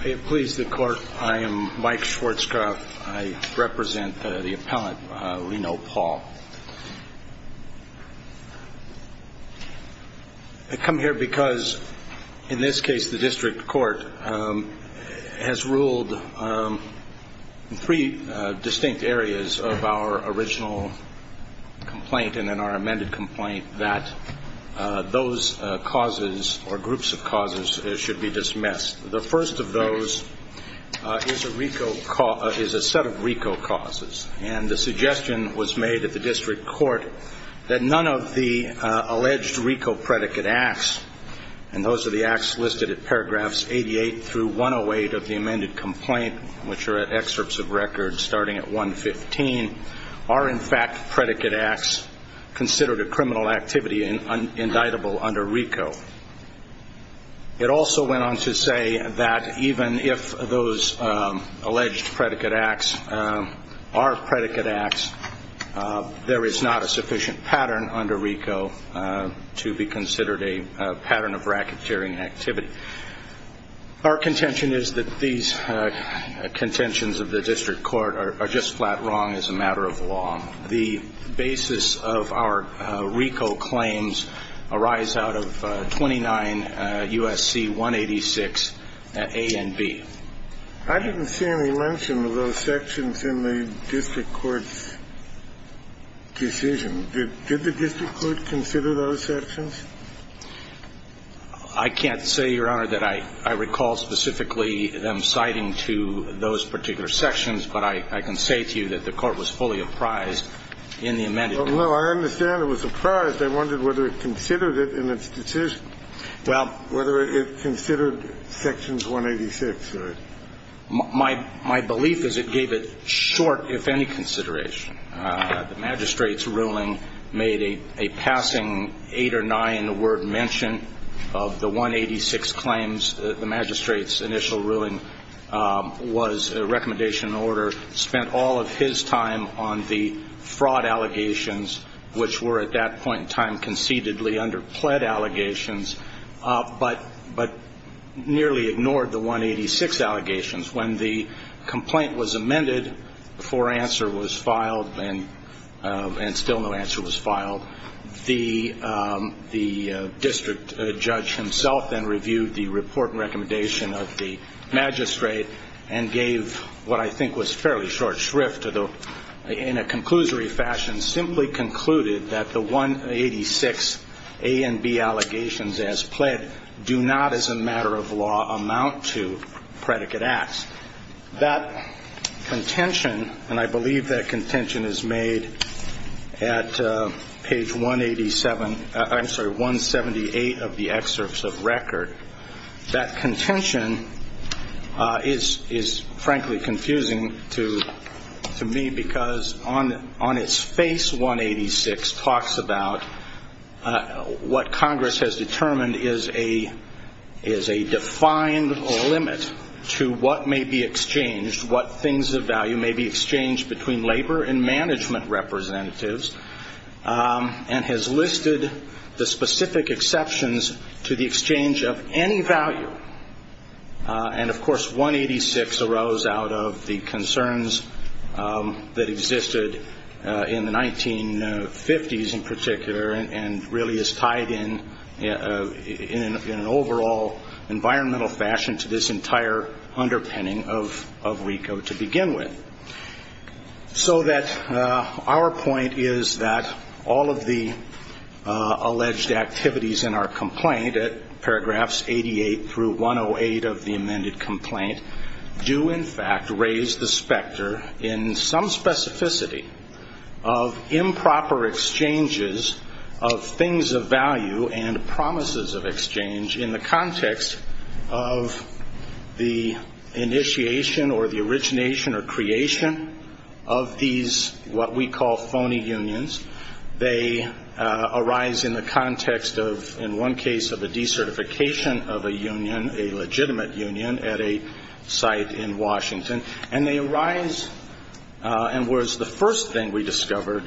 I am Mike Schwartzkopf. I represent the appellant, Reno Paul. I come here because, in this case, the district court has ruled in three distinct areas of our original complaint and in our amended complaint that those causes, or groups of causes, should be dismissed. The first of those is a set of RICO causes. And the suggestion was made at the district court that none of the alleged RICO predicate acts, and those are the acts listed at paragraphs 88 through 108 of the amended complaint, which are at excerpts of record starting at 115, are in fact predicate acts considered a criminal activity and indictable under RICO. It also went on to say that even if those alleged predicate acts are predicate acts, there is not a sufficient pattern under RICO to be considered a pattern of racketeering activity. Our contention is that these contentions of the district court are just flat wrong as a matter of law. The basis of our RICO claims arise out of 29 U.S.C. 186 A and B. I didn't see any mention of those sections in the district court's decision. Did the district court consider those sections? I can't say, Your Honor, that I recall specifically them citing to those particular sections, but I can say to you that the court was fully apprised in the amended case. Well, no, I understand it was apprised. I wondered whether it considered it in its decision, whether it considered sections 186. My belief is it gave it short, if any, consideration. The magistrate's ruling made a passing 8 or 9 word mention of the 186 claims. The magistrate's initial ruling was a recommendation in order, spent all of his time on the fraud allegations, which were at that point in time concededly underpled allegations, but nearly ignored the 186 allegations. When the complaint was amended, before answer was filed, and still no answer was filed, the district judge himself then reviewed the report and recommendation of the magistrate and gave what I think was fairly short shrift in a conclusory fashion, simply concluded that the 186 A and B allegations, as pled, do not as a matter of law amount to predicate acts. That contention, and I believe that contention is made at page 187, I'm sorry, 178 of the excerpts of record, that contention is frankly confusing to me because on its face 186 talks about what Congress has determined is a defined limit to what may be exchanged, what things of value may be exchanged between labor and management representatives, and has listed the specific exceptions to the exchange of any value. And of course 186 arose out of the concerns that existed in the 1950s in particular and really is tied in an overall environmental fashion to this entire underpinning of RICO to begin with. So that our point is that all of the alleged activities in our complaint, at paragraphs 88 through 108 of the amended complaint, do in fact raise the specter in some specificity of improper exchanges of things of value and promises of exchange in the context of the initiation or the origination or creation of these what we call phony unions. They arise in the context of, in one case, of a decertification of a union, a legitimate union at a site in Washington. And they arise, and whereas the first thing we discovered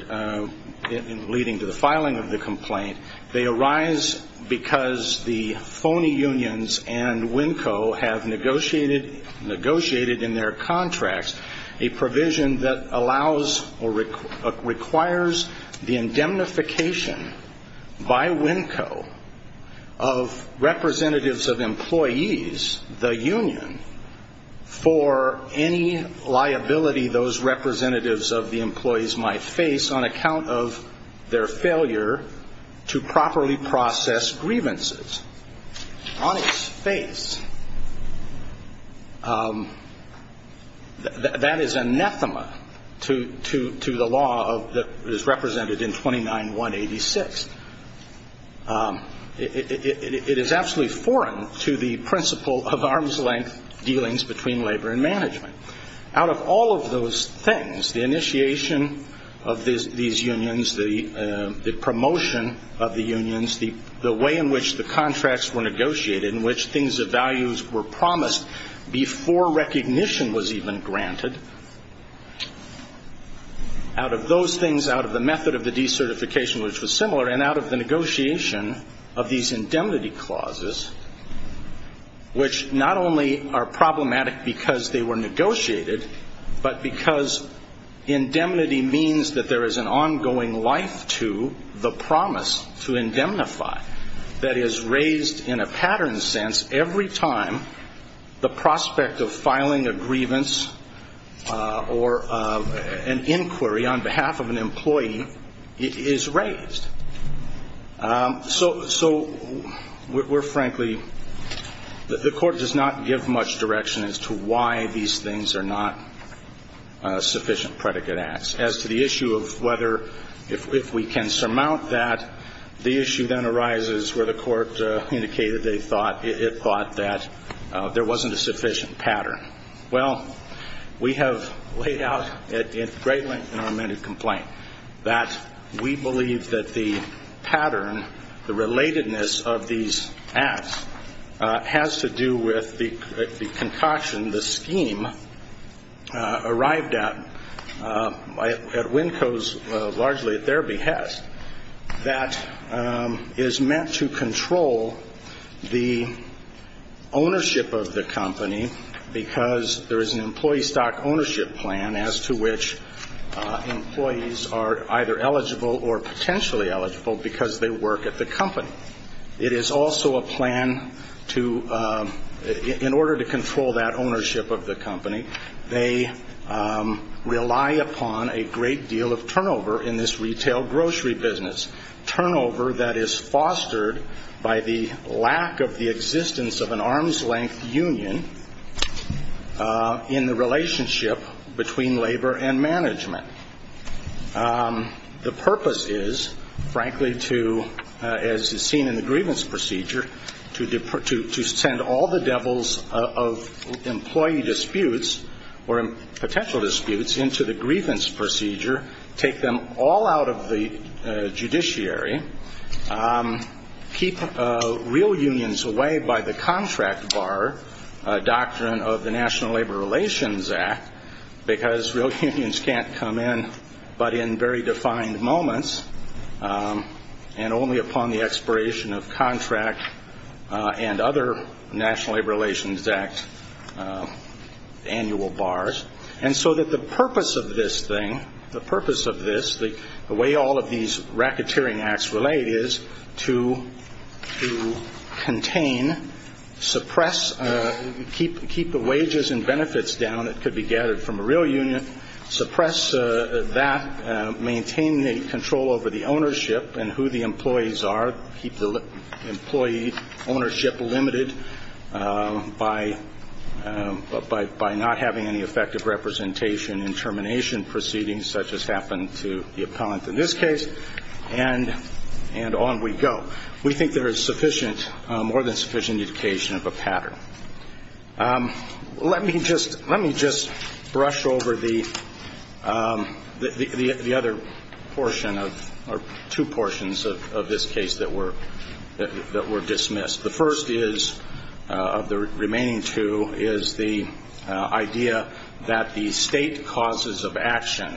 leading to the filing of the complaint, they arise because the phony unions and WNCO have negotiated in their contracts a provision that allows or requires the indemnification by WNCO of representatives of employees, the union, for any liability those representatives of the employees might face on account of their failure to properly process grievances. On its face, that is anathema to the law that is represented in 29-186. It is absolutely foreign to the principle of arm's length dealings between labor and management. Out of all of those things, the initiation of these unions, the promotion of the unions, the way in which the contracts were negotiated, in which things of values were promised before recognition was even granted, out of those things, out of the method of the decertification, which was similar, and out of the negotiation of these indemnity clauses, which not only are problematic because they were negotiated, but because indemnity means that there is an ongoing life to the promise to indemnify that is raised in a pattern sense every time the prospect of filing a grievance or an inquiry on behalf of an employee is raised. So we're frankly, the court does not give much direction as to why these things are not sufficient predicate acts. As to the issue of whether, if we can surmount that, the issue then arises where the court indicated it thought that there wasn't a sufficient pattern. Well, we have laid out at great length in our amended complaint that we believe that the pattern, the relatedness of these acts has to do with the concoction, the scheme arrived at at WNCO's largely at their behest that is meant to control the ownership of the company, because there is an employee stock ownership plan as to which employees are either eligible or potentially eligible because they work at the company. It is also a plan to, in order to control that ownership of the company, they rely upon a great deal of turnover in this retail grocery business, turnover that is fostered by the lack of the existence of an arm's length union in the relationship between labor and management. The purpose is, frankly, to, as is seen in the grievance procedure, to send all the devils of employee disputes or potential disputes into the grievance procedure, take them all out of the judiciary, keep real unions away by the contract bar doctrine of the National Labor Relations Act, because real unions can't come in but in very defined moments and only upon the expiration of contract and other National Labor Relations Act annual bars. And so that the purpose of this thing, the purpose of this, the way all of these racketeering acts relate is to contain, suppress, keep the wages and benefits down that could be gathered from a real union, suppress that, maintain control over the ownership and who the employees are, keep the employee ownership limited by not having any effective representation in termination proceedings such as happened to the appellant in this case, and on we go. We think there is sufficient, more than sufficient, education of a pattern. Let me just brush over the other portion of, or two portions of this case that were dismissed. The first is, of the remaining two, is the idea that the state causes of action,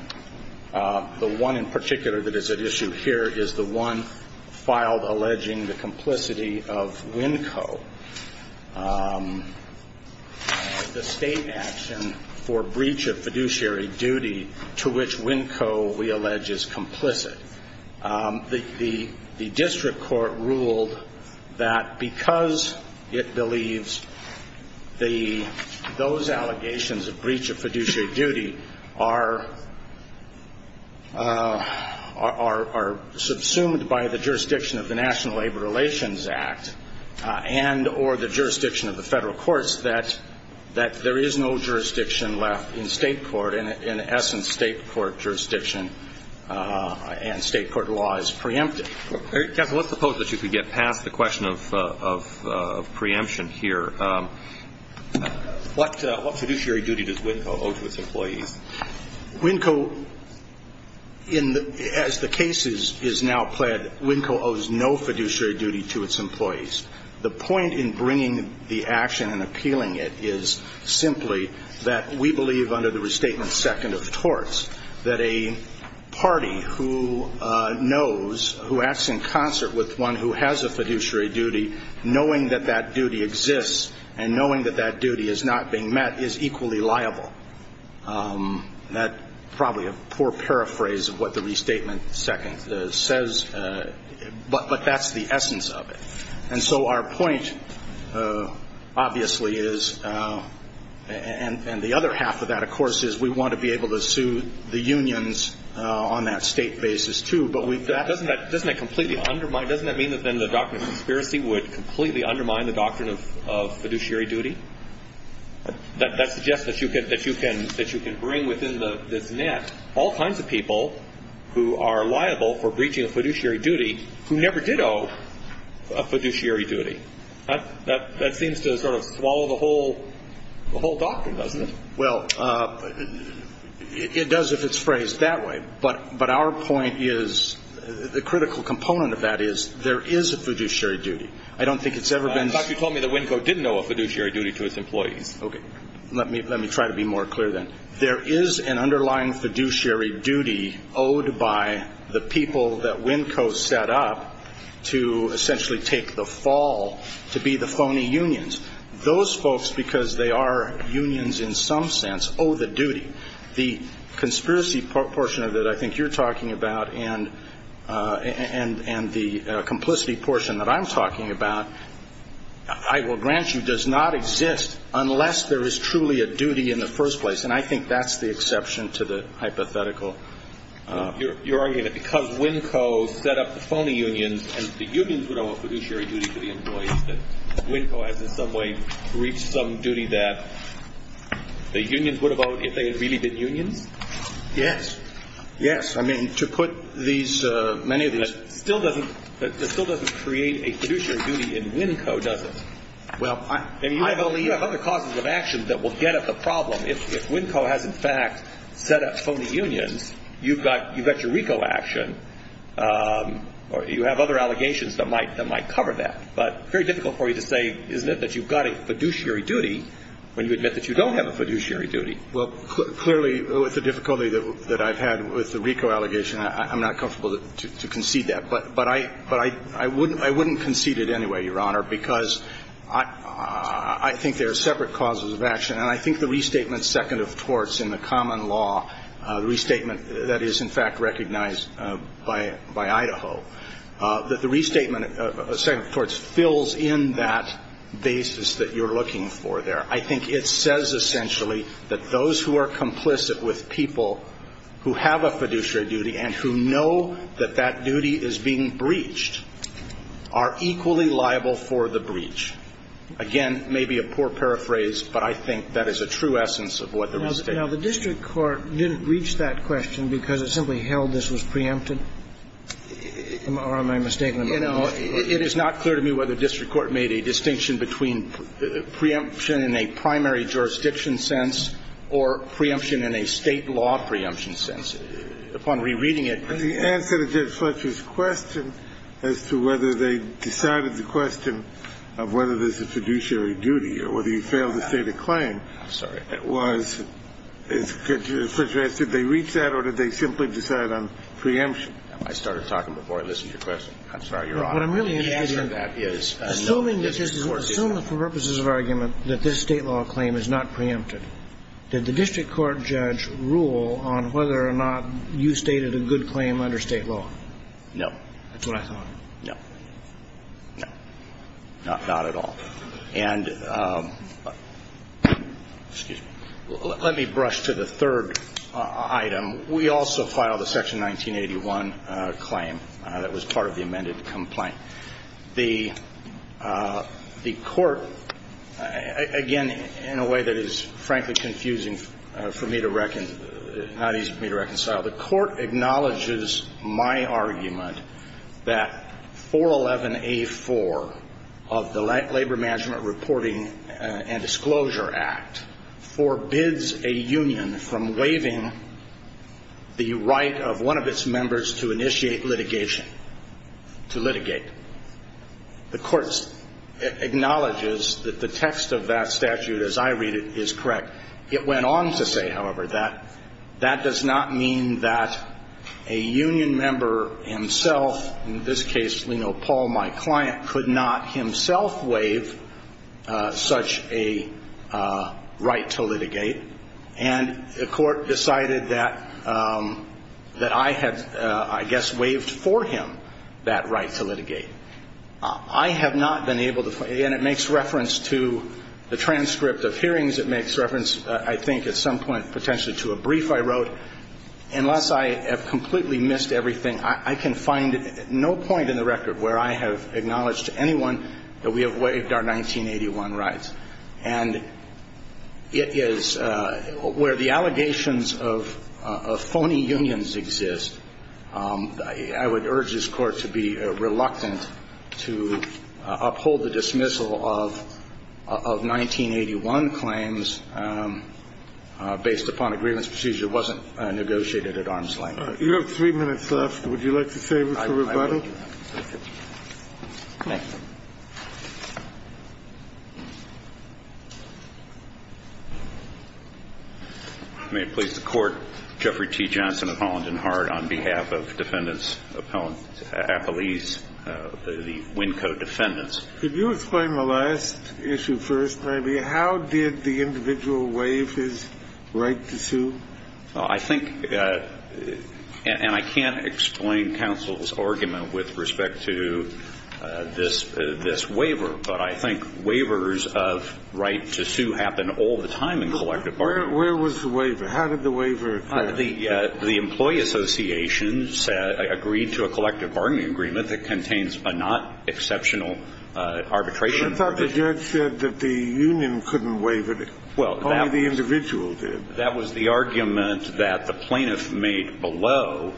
the one in particular that is at issue here is the one filed alleging the complicity of WNCO, the state action for breach of fiduciary duty to which WNCO, we allege, is complicit. The district court ruled that because it believes those allegations of breach of fiduciary duty are subsumed by the jurisdiction of the National Labor Relations Act, and or the jurisdiction of the federal courts, that there is no jurisdiction left in state court, in essence state court jurisdiction, and state court law is preempted. Let's suppose that you could get past the question of preemption here. What fiduciary duty does WNCO owe to its employees? As the case is now pled, WNCO owes no fiduciary duty to its employees. The point in bringing the action and appealing it is simply that we believe under the restatement second of torts that a party who knows, who acts in concert with one who has a fiduciary duty, knowing that that duty exists and knowing that that duty is not being met is equally liable. That's probably a poor paraphrase of what the restatement second says, but that's the essence of it. And so our point obviously is, and the other half of that, of course, is we want to be able to sue the unions on that state basis, too. But doesn't that completely undermine, doesn't that mean that then the doctrine of conspiracy would completely undermine the doctrine of fiduciary duty? That suggests that you can bring within this net all kinds of people who are liable for breaching a fiduciary duty who never did owe a fiduciary duty. That seems to sort of swallow the whole doctrine, doesn't it? Well, it does if it's phrased that way. But our point is, the critical component of that is there is a fiduciary duty. I don't think it's ever been. In fact, you told me that WNCO didn't owe a fiduciary duty to its employees. Okay. Let me try to be more clear then. There is an underlying fiduciary duty owed by the people that WNCO set up to essentially take the fall to be the phony unions. Those folks, because they are unions in some sense, owe the duty. The conspiracy portion of it I think you're talking about and the complicity portion that I'm talking about, I will grant you, does not exist unless there is truly a duty in the first place. And I think that's the exception to the hypothetical. You're arguing that because WNCO set up the phony unions and the unions would owe a fiduciary duty to the employees, that WNCO has in some way reached some duty that the unions would have owed if they had really been unions? Yes. Yes. I mean, to put these, many of these. That still doesn't create a fiduciary duty in WNCO, does it? Well, I. And you have other causes of action that will get at the problem. If WNCO has in fact set up phony unions, you've got your RICO action or you have other allegations that might cover that. But very difficult for you to say, isn't it, that you've got a fiduciary duty when you admit that you don't have a fiduciary duty. Well, clearly with the difficulty that I've had with the RICO allegation, I'm not comfortable to concede that. But I wouldn't concede it anyway, Your Honor, because I think there are separate causes of action. And I think the restatement second of torts in the common law, the restatement that is in fact recognized by Idaho, that the restatement second of torts fills in that basis that you're looking for there. I think it says essentially that those who are complicit with people who have a fiduciary duty and who know that that duty is being breached are equally liable for the breach. Again, maybe a poor paraphrase, but I think that is a true essence of what the restatement is. Now, the district court didn't reach that question because it simply held this was preempted? Or am I mistaken about that? It is not clear to me whether district court made a distinction between preemption in a primary jurisdiction sense or preemption in a State law preemption sense. Upon rereading it the answer to Judge Fletcher's question as to whether they decided the question of whether there's a fiduciary duty or whether you fail to state a claim was, as Judge Fletcher asked, did they reach that or did they simply decide on preemption? I started talking before I listened to your question. I'm sorry, Your Honor. The answer to that is no, the district court did not. Assuming for purposes of argument that this State law claim is not preempted, did the district court judge rule on whether or not you stated a good claim under State law? No. That's what I thought. No. No. Not at all. And let me brush to the third item. We also filed a Section 1981 claim that was part of the amended complaint. The court, again, in a way that is frankly confusing for me to reconcile, not easy for me to reconcile, the court acknowledges my argument that 411A4 of the Labor Management Reporting and Disclosure Act forbids a union from waiving the right of one of its members to initiate litigation, to litigate. The court acknowledges that the text of that statute, as I read it, is correct. It went on to say, however, that that does not mean that a union member himself, in this case, Paul, my client, could not himself waive such a right to litigate. And the court decided that I had, I guess, waived for him that right to litigate. I have not been able to, again, it makes reference to the transcript of hearings. It makes reference, I think, at some point potentially to a brief I wrote. Unless I have completely missed everything, I can find no point in the record where I have acknowledged to anyone that we have waived our 1981 rights. And it is where the allegations of phony unions exist. I would urge this Court to be reluctant to uphold the dismissal of 1981 claims based upon a grievance procedure that was not negotiated at arm's length. You have three minutes left. Would you like to save it for rebuttal? I will. Thank you. May it please the Court. Jeffrey T. Johnson of Holland and Hart on behalf of Defendants Appellees, the Winco Defendants. Could you explain the last issue first, maybe? How did the individual waive his right to sue? Well, I think, and I can't explain counsel's argument with respect to this waiver, but I think waivers of right to sue happen all the time in collective bargaining. Where was the waiver? How did the waiver occur? The employee associations agreed to a collective bargaining agreement that contains a not exceptional arbitration. I thought the judge said that the union couldn't waive it. Only the individual did. That was the argument that the plaintiff made below.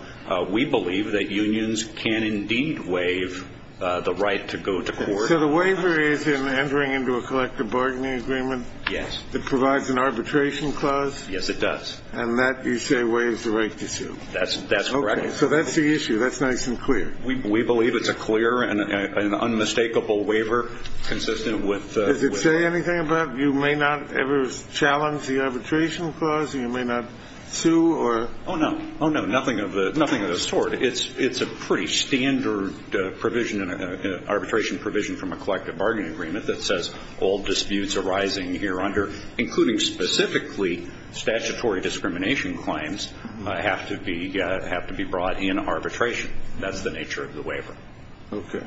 We believe that unions can indeed waive the right to go to court. So the waiver is in entering into a collective bargaining agreement? Yes. It provides an arbitration clause? Yes, it does. And that you say waives the right to sue? That's correct. Okay. So that's the issue. That's nice and clear. We believe it's a clear and unmistakable waiver consistent with the waiver. Does it say anything about you may not ever challenge the arbitration clause? You may not sue or? Oh, no. Oh, no. Nothing of the sort. It's a pretty standard provision, an arbitration provision from a collective bargaining agreement that says all disputes arising here under, including specifically statutory discrimination claims, have to be brought in arbitration. That's the nature of the waiver. Okay.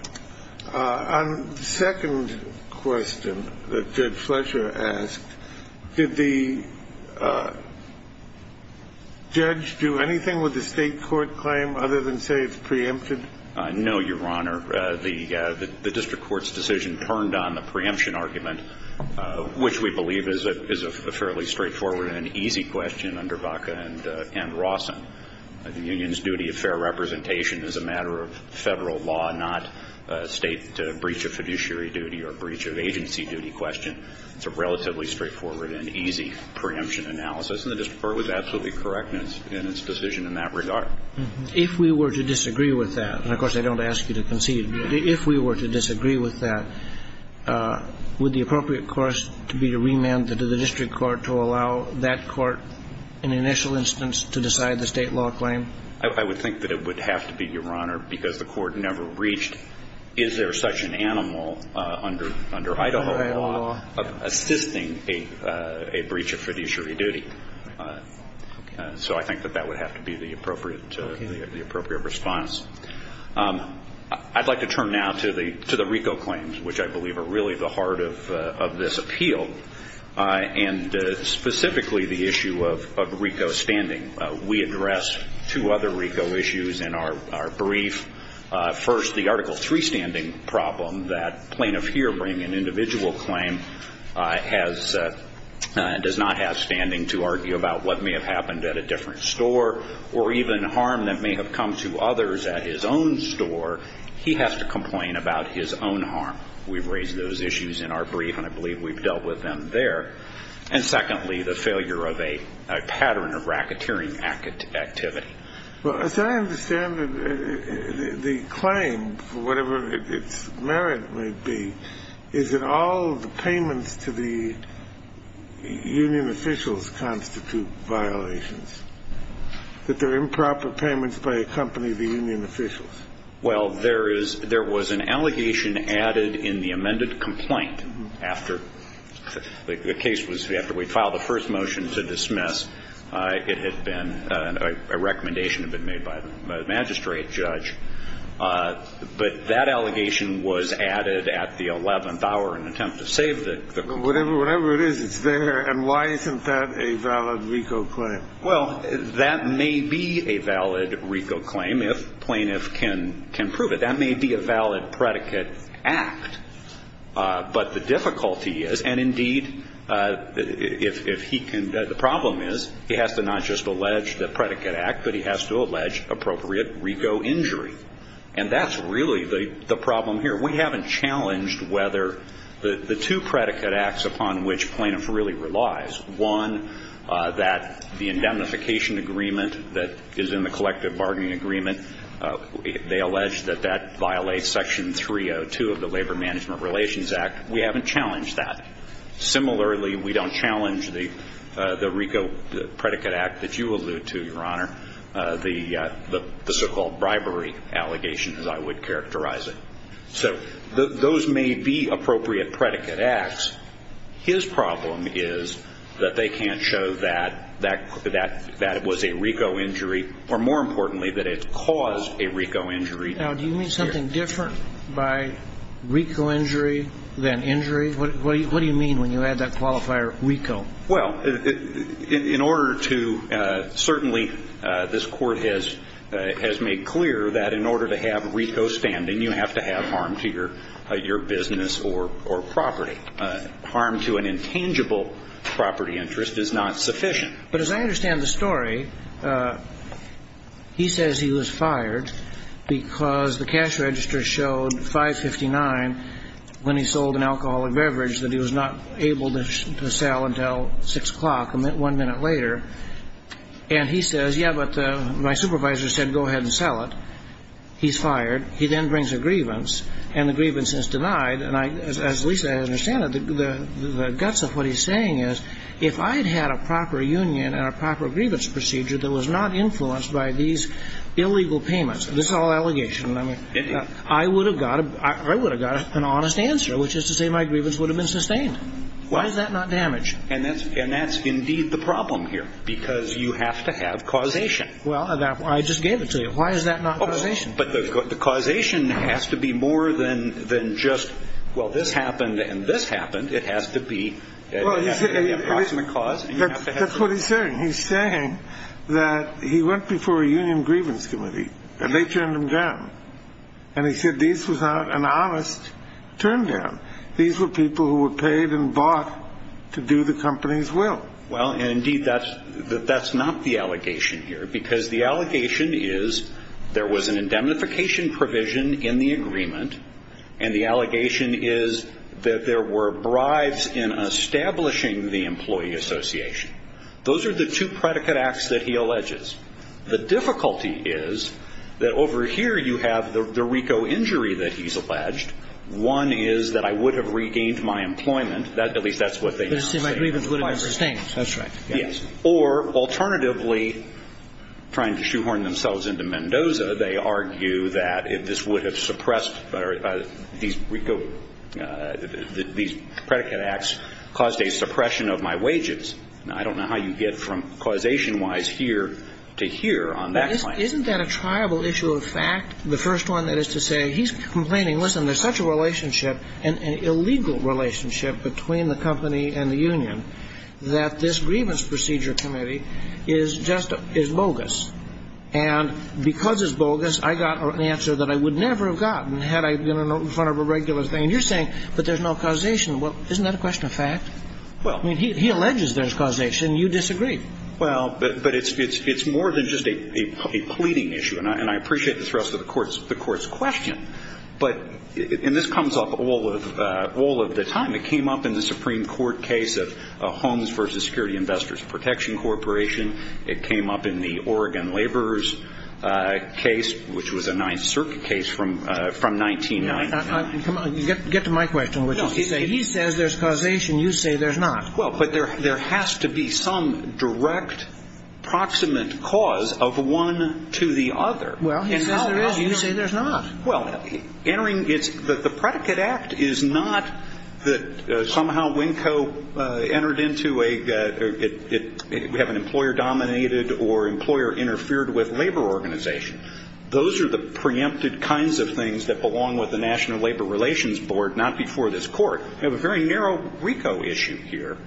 On the second question that Judge Fletcher asked, did the judge do anything with the state court claim other than say it's preempted? No, Your Honor. The district court's decision turned on the preemption argument, which we believe is a fairly straightforward and easy question under Baca and Rawson. The union's duty of fair representation is a matter of Federal law, not state breach of fiduciary duty or breach of agency duty question. It's a relatively straightforward and easy preemption analysis, and the district court was absolutely correct in its decision in that regard. If we were to disagree with that, and, of course, I don't ask you to concede, if we were to disagree with that, would the appropriate course to be to remand the district court to allow that court in the initial instance to decide the state law claim? I would think that it would have to be, Your Honor, because the court never breached is there such an animal under Idaho law of assisting a breach of fiduciary duty. So I think that that would have to be the appropriate response. I'd like to turn now to the RICO claims, which I believe are really the heart of this appeal, and specifically the issue of RICO standing. We addressed two other RICO issues in our brief. First, the Article III standing problem that plaintiff here bringing an individual claim has and does not have standing to argue about what may have happened at a different store or even harm that may have come to others at his own store. He has to complain about his own harm. We've raised those issues in our brief, and I believe we've dealt with them there. And secondly, the failure of a pattern of racketeering activity. Well, as I understand it, the claim, for whatever its merit may be, is that all the payments to the union officials constitute violations, that they're improper payments by a company of the union officials. Well, there is – there was an allegation added in the amended complaint after the case was – after we filed the first motion to dismiss. It had been – a recommendation had been made by the magistrate judge. But that allegation was added at the 11th hour in an attempt to save the complaint. Whatever it is, it's there. And why isn't that a valid RICO claim? Well, that may be a valid RICO claim if plaintiff can prove it. That may be a valid predicate act. But the difficulty is – and indeed, if he can – the problem is he has to not just allege the predicate act, but he has to allege appropriate RICO injury. And that's really the problem here. We haven't challenged whether the two predicate acts upon which plaintiff really relies, one, that the indemnification agreement that is in the collective bargaining agreement, they allege that that violates section 302 of the Labor Management Relations Act. We haven't challenged that. Similarly, we don't challenge the RICO predicate act that you allude to, Your Honor, the so-called bribery allegations, as I would characterize it. So those may be appropriate predicate acts. His problem is that they can't show that that was a RICO injury, or more importantly, that it caused a RICO injury. Now, do you mean something different by RICO injury than injury? What do you mean when you add that qualifier RICO? Well, in order to – certainly this Court has made clear that in order to have RICO standing, you have to have harm to your business or property. Harm to an intangible property interest is not sufficient. But as I understand the story, he says he was fired because the cash register showed 559 when he sold an alcoholic beverage that he was not able to sell until 6 o'clock, one minute later. And he says, yeah, but my supervisor said go ahead and sell it. He's fired. He then brings a grievance, and the grievance is denied. And as least I understand it, the guts of what he's saying is if I had had a proper union and a proper grievance procedure that was not influenced by these illegal payments, this whole allegation, I would have got an honest answer, which is to say my grievance would have been sustained. Why is that not damage? And that's indeed the problem here, because you have to have causation. Well, I just gave it to you. Why is that not causation? But the causation has to be more than just, well, this happened and this happened. It has to be an approximate cause. That's what he's saying. He's saying that he went before a union grievance committee, and they turned him down. And he said this was not an honest turn down. These were people who were paid and bought to do the company's will. Well, indeed, that's not the allegation here, because the allegation is there was an indemnification provision in the agreement, and the allegation is that there were bribes in establishing the employee association. Those are the two predicate acts that he alleges. The difficulty is that over here you have the RICO injury that he's alleged. One is that I would have regained my employment. At least that's what they now say. To say my grievance would have been sustained. That's right. Yes. Or, alternatively, trying to shoehorn themselves into Mendoza, they argue that if this would have suppressed these RICO, these predicate acts caused a suppression of my wages. Now, I don't know how you get from causation-wise here to here on that claim. Isn't that a triable issue of fact, the first one? That is to say, he's complaining, listen, there's such a relationship, an illegal relationship, between the company and the union that this grievance procedure committee is bogus. And because it's bogus, I got an answer that I would never have gotten had I been in front of a regular thing. And you're saying, but there's no causation. Well, isn't that a question of fact? Well. I mean, he alleges there's causation. You disagree. Well, but it's more than just a pleading issue. And I appreciate the thrust of the Court's question. But, and this comes up all of the time. It came up in the Supreme Court case of Homes versus Security Investors Protection Corporation. It came up in the Oregon Laborers case, which was a Ninth Circuit case from 1999. Get to my question, which is to say, he says there's causation. You say there's not. Well, but there has to be some direct proximate cause of one to the other. Well, he says there is. You say there's not. Well, entering, it's, the predicate act is not that somehow Winco entered into a, we have an employer-dominated or employer-interfered-with labor organization. Those are the preempted kinds of things that belong with the National Labor Relations Board, not before this Court. We have a very narrow RICO issue here.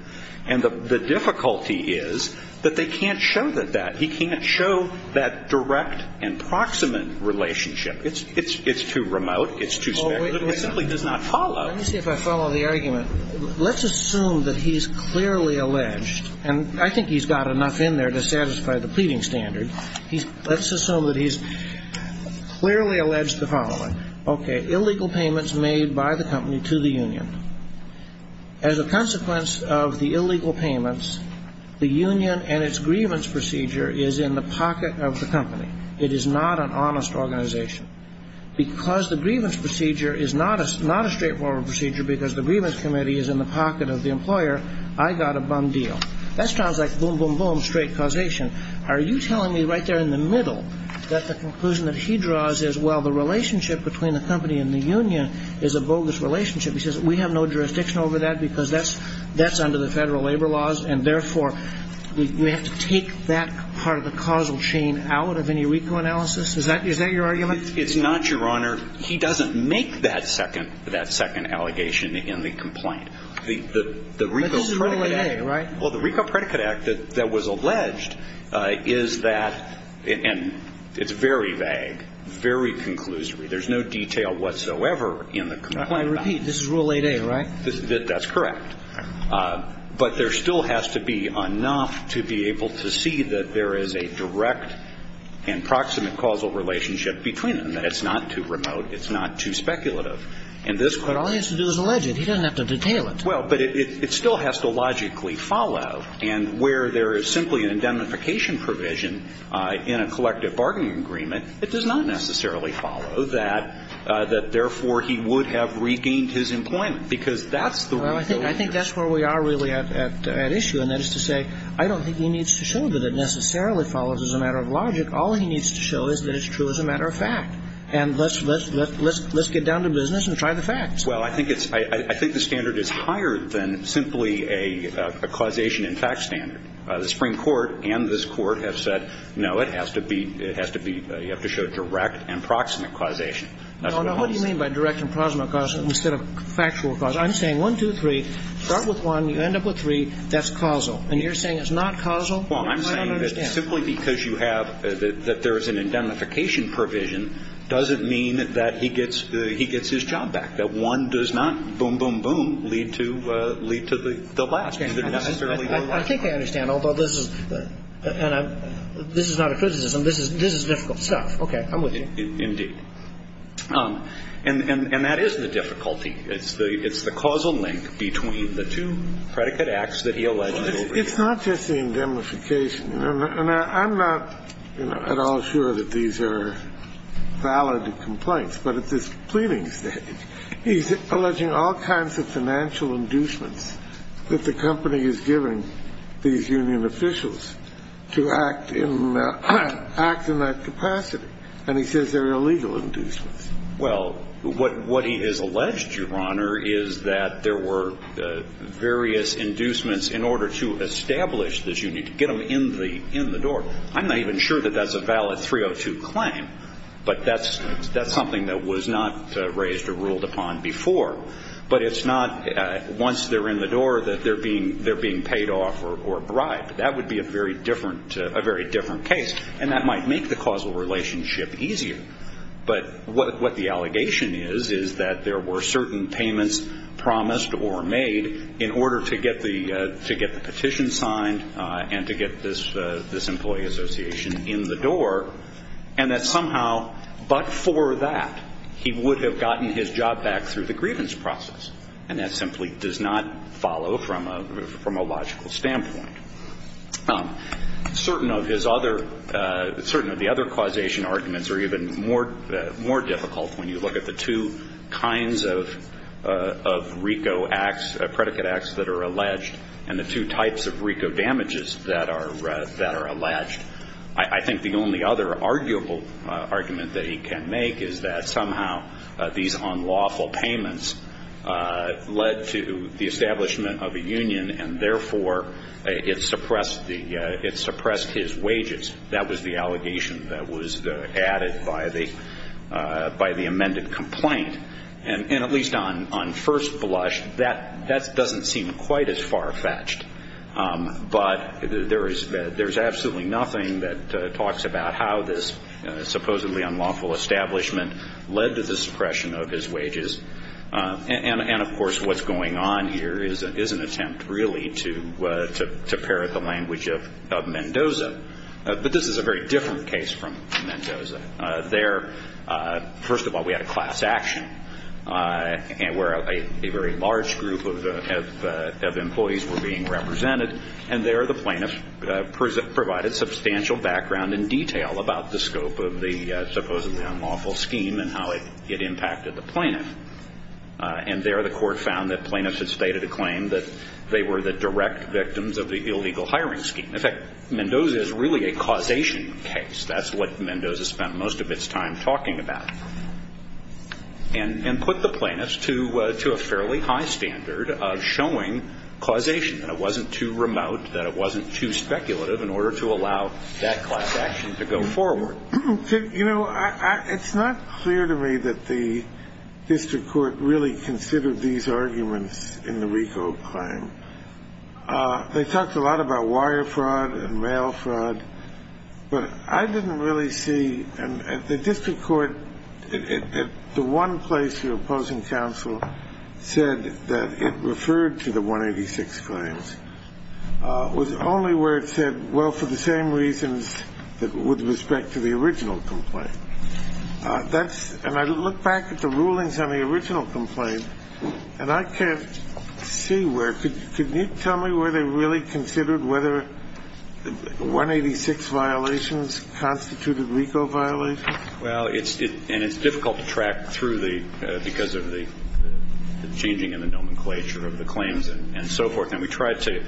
And the difficulty is that they can't show that that, he can't show that direct and proximate relationship. It's too remote. It's too specific. It simply does not follow. Let me see if I follow the argument. Let's assume that he's clearly alleged, and I think he's got enough in there to satisfy the pleading standard. Let's assume that he's clearly alleged the following. Okay. Illegal payments made by the company to the union. As a consequence of the illegal payments, the union and its grievance procedure is in the pocket of the company. It is not an honest organization. Because the grievance procedure is not a straightforward procedure because the grievance committee is in the pocket of the employer, I got a bum deal. That sounds like boom, boom, boom, straight causation. Are you telling me right there in the middle that the conclusion that he draws is, well, the relationship between the company and the union is a bogus relationship? He says we have no jurisdiction over that because that's under the federal labor laws, and, therefore, we have to take that part of the causal chain out of any RICO analysis? Is that your argument? It's not, Your Honor. He doesn't make that second allegation in the complaint. But this is Rule 8a, right? Well, the RICO Predicate Act that was alleged is that – and it's very vague, very conclusory. There's no detail whatsoever in the complaint. I repeat, this is Rule 8a, right? That's correct. But there still has to be enough to be able to see that there is a direct and proximate causal relationship between them, that it's not too remote, it's not too speculative. But all he has to do is allege it. He doesn't have to detail it. Well, but it still has to logically follow. And where there is simply an indemnification provision in a collective bargaining agreement, it does not necessarily follow that, therefore, he would have regained his employment, because that's the RICO interest. Well, I think that's where we are really at issue, and that is to say, I don't think he needs to show that it necessarily follows as a matter of logic. All he needs to show is that it's true as a matter of fact. And let's get down to business and try the facts. Well, I think it's – I think the standard is higher than simply a causation in fact standard. The Supreme Court and this Court have said, no, it has to be – it has to be – you have to show direct and proximate causation. No, no. What do you mean by direct and proximate causation instead of factual causation? I'm saying one, two, three. Start with one. You end up with three. That's causal. And you're saying it's not causal? You might not understand. Simply because you have – that there is an indemnification provision doesn't mean that he gets – he gets his job back, that one does not boom, boom, boom, lead to – lead to the last. I think I understand, although this is – and this is not a criticism. This is difficult stuff. Okay. I'm with you. Indeed. And that is the difficulty. It's the – it's the causal link between the two predicate acts that he alleges over here. It's not just the indemnification. And I'm not at all sure that these are valid complaints. But at this pleading stage, he's alleging all kinds of financial inducements that the company is giving these union officials to act in – act in that capacity. And he says they're illegal inducements. Well, what he has alleged, Your Honor, is that there were various inducements in order to establish this union, to get them in the door. I'm not even sure that that's a valid 302 claim. But that's something that was not raised or ruled upon before. But it's not once they're in the door that they're being paid off or bribed. That would be a very different – a very different case. And that might make the causal relationship easier. But what the allegation is is that there were certain payments promised or made in order to get the – to get the petition signed and to get this employee association in the door, and that somehow but for that he would have gotten his job back through the grievance process. And that simply does not follow from a logical standpoint. Certain of his other – certain of the other causation arguments are even more difficult when you look at the two kinds of RICO acts, predicate acts that are alleged and the two types of RICO damages that are alleged. I think the only other arguable argument that he can make is that somehow these unlawful payments led to the establishment of a union, and therefore it suppressed the – it suppressed his wages. That was the allegation that was added by the – by the amended complaint. And at least on first blush, that doesn't seem quite as farfetched. But there is – there's absolutely nothing that talks about how this supposedly unlawful establishment led to the suppression of his wages. And, of course, what's going on here is an attempt really to parrot the language of Mendoza. But this is a very different case from Mendoza. There, first of all, we had a class action where a very large group of employees were being represented. And there the plaintiffs provided substantial background and detail about the scope of the supposedly unlawful scheme and how it impacted the plaintiff. And there the court found that plaintiffs had stated a claim that they were the direct victims of the illegal hiring scheme. In fact, Mendoza is really a causation case. That's what Mendoza spent most of its time talking about. And put the plaintiffs to a fairly high standard of showing causation, that it wasn't too remote, that it wasn't too speculative in order to allow that class action to go forward. You know, it's not clear to me that the district court really considered these arguments in the RICO claim. They talked a lot about wire fraud and mail fraud. But I didn't really see the district court at the one place the opposing counsel said that it referred to the 186 claims. It was only where it said, well, for the same reasons with respect to the original complaint. And I look back at the rulings on the original complaint, and I can't see where. Can you tell me where they really considered whether 186 violations constituted RICO violations? Well, and it's difficult to track through because of the changing in the nomenclature of the claims and so forth. And we tried to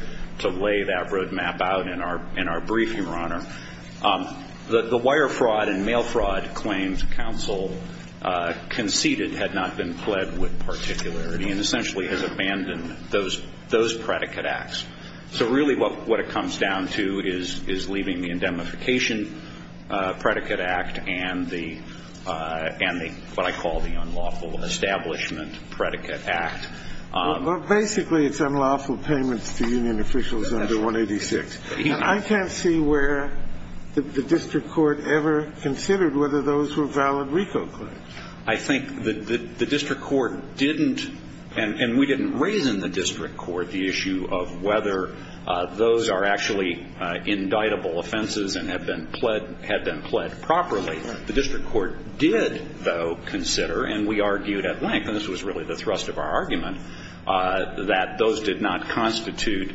lay that road map out in our brief, Your Honor. The wire fraud and mail fraud claims counsel conceded had not been pled with particularity and essentially has abandoned those predicate acts. So really what it comes down to is leaving the indemnification predicate act and the, what I call the unlawful establishment predicate act. Well, basically it's unlawful payments to union officials under 186. I can't see where the district court ever considered whether those were valid RICO claims. I think the district court didn't, and we didn't raise in the district court the issue of whether those are actually indictable offenses and have been pled properly. The district court did, though, consider, and we argued at length, and this was really the thrust of our argument, that those did not constitute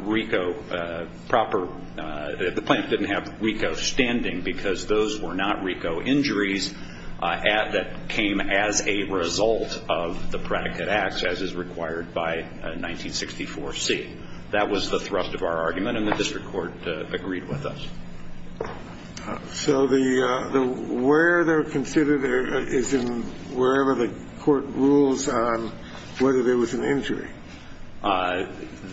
RICO proper, the plaintiff didn't have RICO standing because those were not RICO injuries that came as a result of the predicate acts as is required by 1964C. That was the thrust of our argument, and the district court agreed with us. So the where they're considered is in wherever the court rules on whether there was an injury.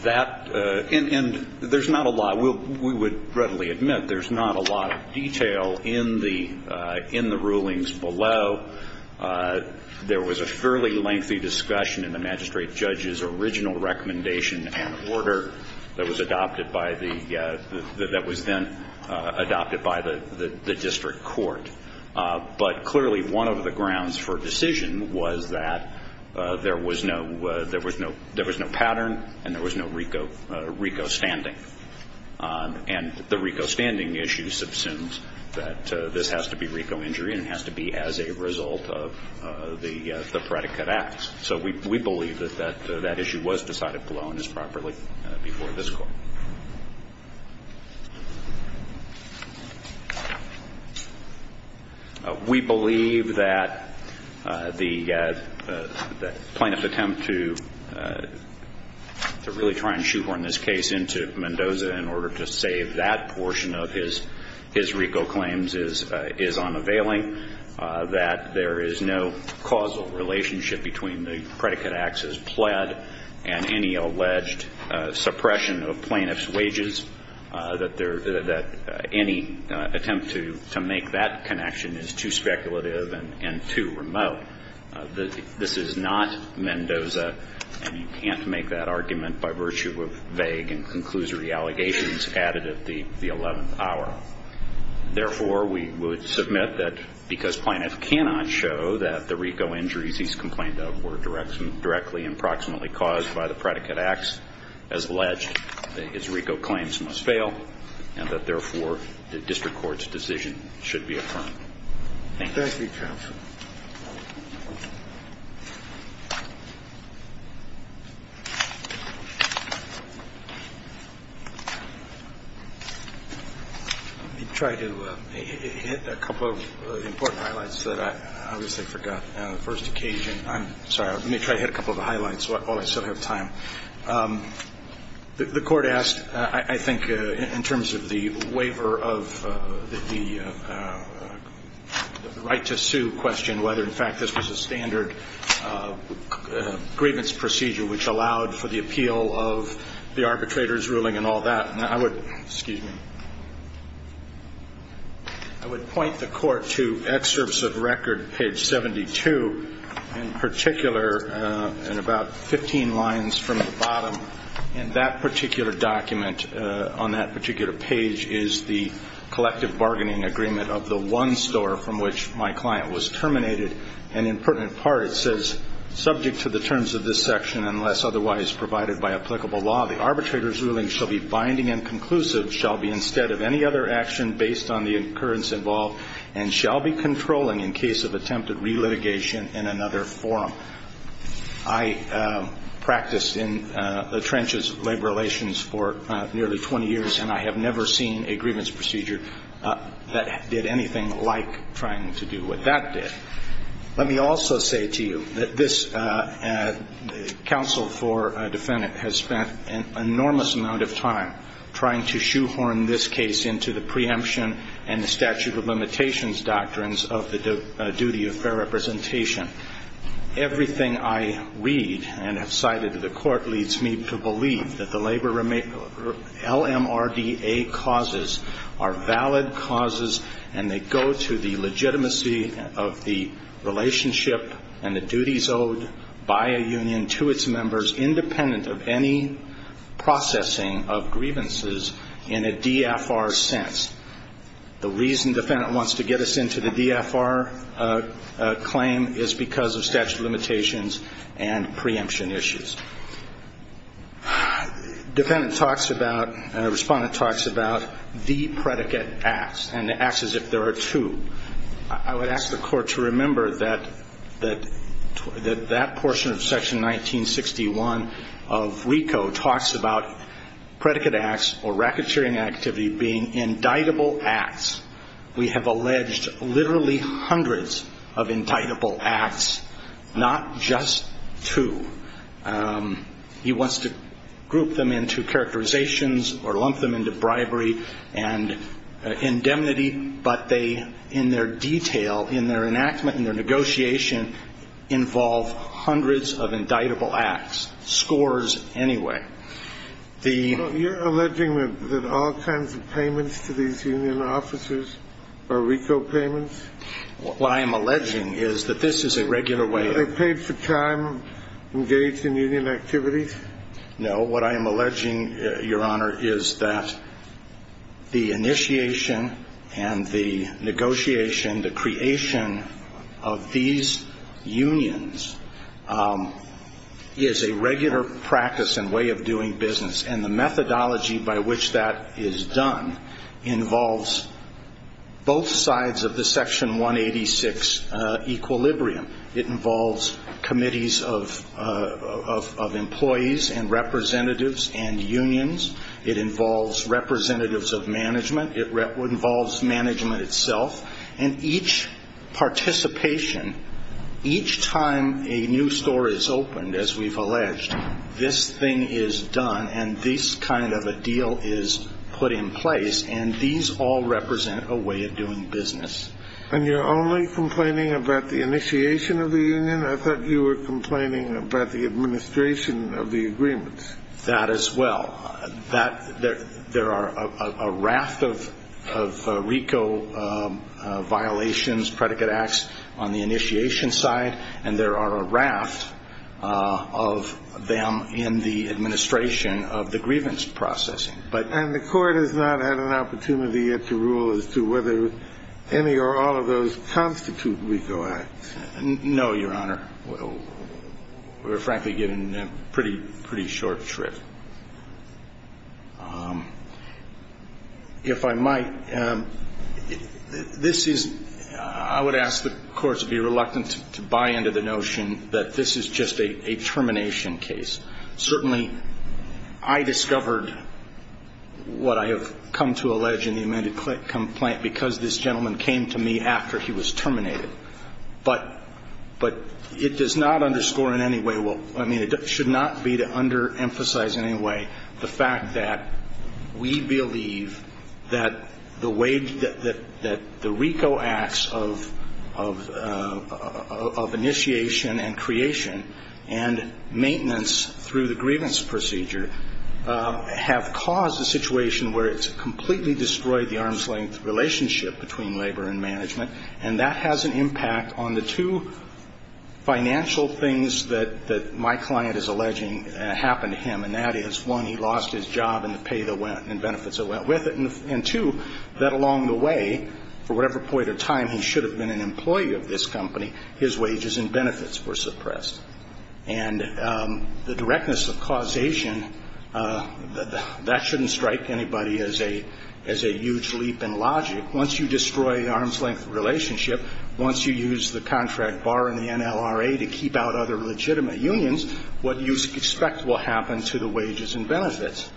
That, and there's not a lot. We would readily admit there's not a lot of detail in the rulings below. There was a fairly lengthy discussion in the magistrate judge's original recommendation and order that was then adopted by the district court, but clearly one of the grounds for decision was that there was no pattern and there was no RICO standing, and the RICO standing issue subsumes that this has to be RICO injury and it has to be as a result of the predicate acts. So we believe that that issue was decided below and is properly before this court. We believe that the plaintiff's attempt to really try and shoehorn this case into Mendoza in order to save that portion of his RICO claims is unavailing, that there is no causal relationship between the predicate acts as pled and any alleged suppression of plaintiff's wages, that any attempt to make that connection is too speculative and too remote. This is not Mendoza, and you can't make that argument by virtue of vague and conclusory allegations added at the 11th hour. Therefore, we would submit that because plaintiff cannot show that the RICO injuries he's complained of were directly and proximately caused by the predicate acts as alleged, his RICO claims must fail and that therefore the district court's decision should be affirmed. Thank you. Let me try to hit a couple of important highlights that I obviously forgot on the first occasion. I'm sorry, let me try to hit a couple of highlights while I still have time. The court asked, I think, in terms of the waiver of the right to sue question, whether in fact this was a standard grievance procedure which allowed for the appeal of the arbitrator's ruling and all that. I would point the court to excerpts of record, page 72 in particular, and about 15 lines from the bottom, and that particular document on that particular page is the collective bargaining agreement of the one store from which my client was terminated, and in part it says, subject to the terms of this section, unless otherwise provided by applicable law, the arbitrator's ruling shall be binding and conclusive, shall be instead of any other action based on the occurrence involved, and shall be controlling in case of attempted relitigation in another forum. I practiced in the trenches of labor relations for nearly 20 years, and I have never seen a grievance procedure that did anything like trying to do what that did. Let me also say to you that this counsel for a defendant has spent an enormous amount of time trying to shoehorn this case into the preemption and the statute of limitations doctrines of the duty of fair representation. Everything I read and have cited to the court leads me to believe that the labor LMRDA causes are valid causes, and they go to the legitimacy of the relationship and the duties owed by a union to its members, independent of any processing of grievances in a DFR sense. The reason defendant wants to get us into the DFR claim is because of statute of limitations and preemption issues. Defendant talks about, respondent talks about the predicate acts, and the acts as if there are two. I would ask the court to remember that that portion of section 1961 of WECO talks about predicate acts or racketeering activity being indictable acts. We have alleged literally hundreds of indictable acts, not just two. He wants to group them into characterizations or lump them into bribery and indemnity, but they, in their detail, in their enactment, in their negotiation, involve hundreds of indictable acts, scores anyway. You're alleging that all kinds of payments to these union officers are WECO payments? What I am alleging is that this is a regular way of... Are they paid for time engaged in union activities? No. What I am alleging, Your Honor, is that the initiation and the negotiation, the creation of these unions, is a regular practice and way of doing business. And the methodology by which that is done involves both sides of the section 186 equilibrium. It involves committees of employees and representatives and unions. It involves representatives of management. It involves management itself. And each participation, each time a new store is opened, as we've alleged, this thing is done and this kind of a deal is put in place. And these all represent a way of doing business. And you're only complaining about the initiation of the union? I thought you were complaining about the administration of the agreements. That as well. There are a raft of WECO violations, predicate acts, on the initiation side, and there are a raft of them in the administration of the grievance processing. And the Court has not had an opportunity yet to rule as to whether any or all of those constitute WECO acts? No, Your Honor. We're, frankly, getting a pretty short trip. If I might, this is, I would ask the Court to be reluctant to buy into the notion that this is just a termination case. Certainly, I discovered what I have come to allege in the amended complaint because this gentleman came to me after he was terminated. But it does not underscore in any way, well, I mean, it should not be to underemphasize in any way the fact that we believe that the WECO acts of initiation and creation and maintenance through the grievance procedure have caused a situation where it's completely destroyed the arm's-length relationship between labor and management. And that has an impact on the two financial things that my client is alleging happened to him. And that is, one, he lost his job and the benefits that went with it. And, two, that along the way, for whatever point in time he should have been an employee of this company, his wages and benefits were suppressed. And the directness of causation, that shouldn't strike anybody as a huge leap in logic. Once you destroy the arm's-length relationship, once you use the contract bar in the NLRA to keep out other legitimate unions, what do you expect will happen to the wages and benefits?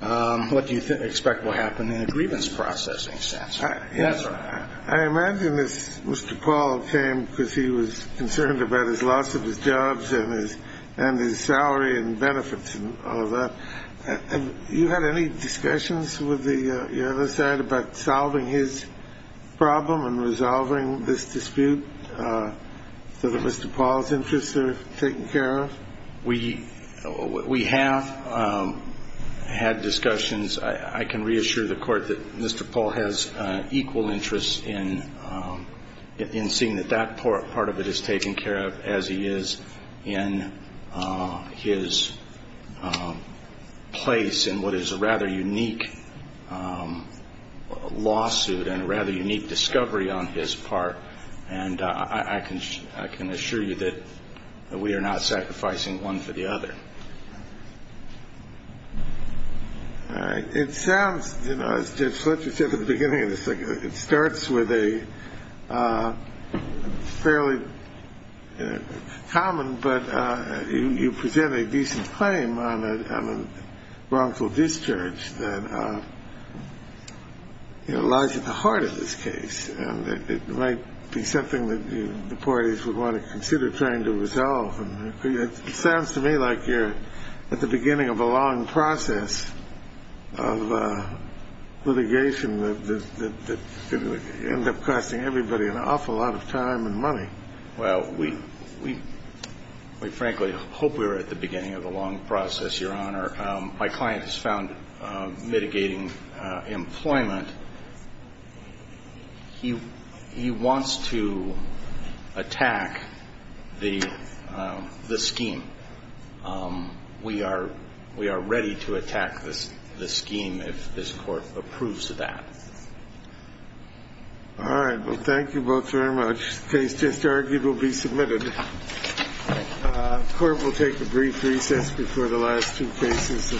What do you expect will happen in a grievance processing sense? I imagine this Mr. Paul came because he was concerned about his loss of his jobs and his salary and benefits and all that. Have you had any discussions with the other side about solving his problem and resolving this dispute so that Mr. Paul's interests are taken care of? We have had discussions. I can reassure the Court that Mr. Paul has equal interests in seeing that that part of it is taken care of as he is in his place in what is a rather unique lawsuit and a rather unique discovery on his part. And I can assure you that we are not sacrificing one for the other. All right. It sounds, as Judge Fletcher said at the beginning of this, it starts with a fairly common, but you present a decent claim on a wrongful discharge that lies at the heart of this case. And it might be something that the parties would want to consider trying to resolve. It sounds to me like you're at the beginning of a long process of litigation that could end up costing everybody an awful lot of time and money. Well, we frankly hope we're at the beginning of a long process, Your Honor. My client has found mitigating employment. He wants to attack the scheme. We are ready to attack the scheme if this Court approves of that. All right. Well, thank you both very much. The case just argued will be submitted. The Court will take a brief recess before the last two cases this morning.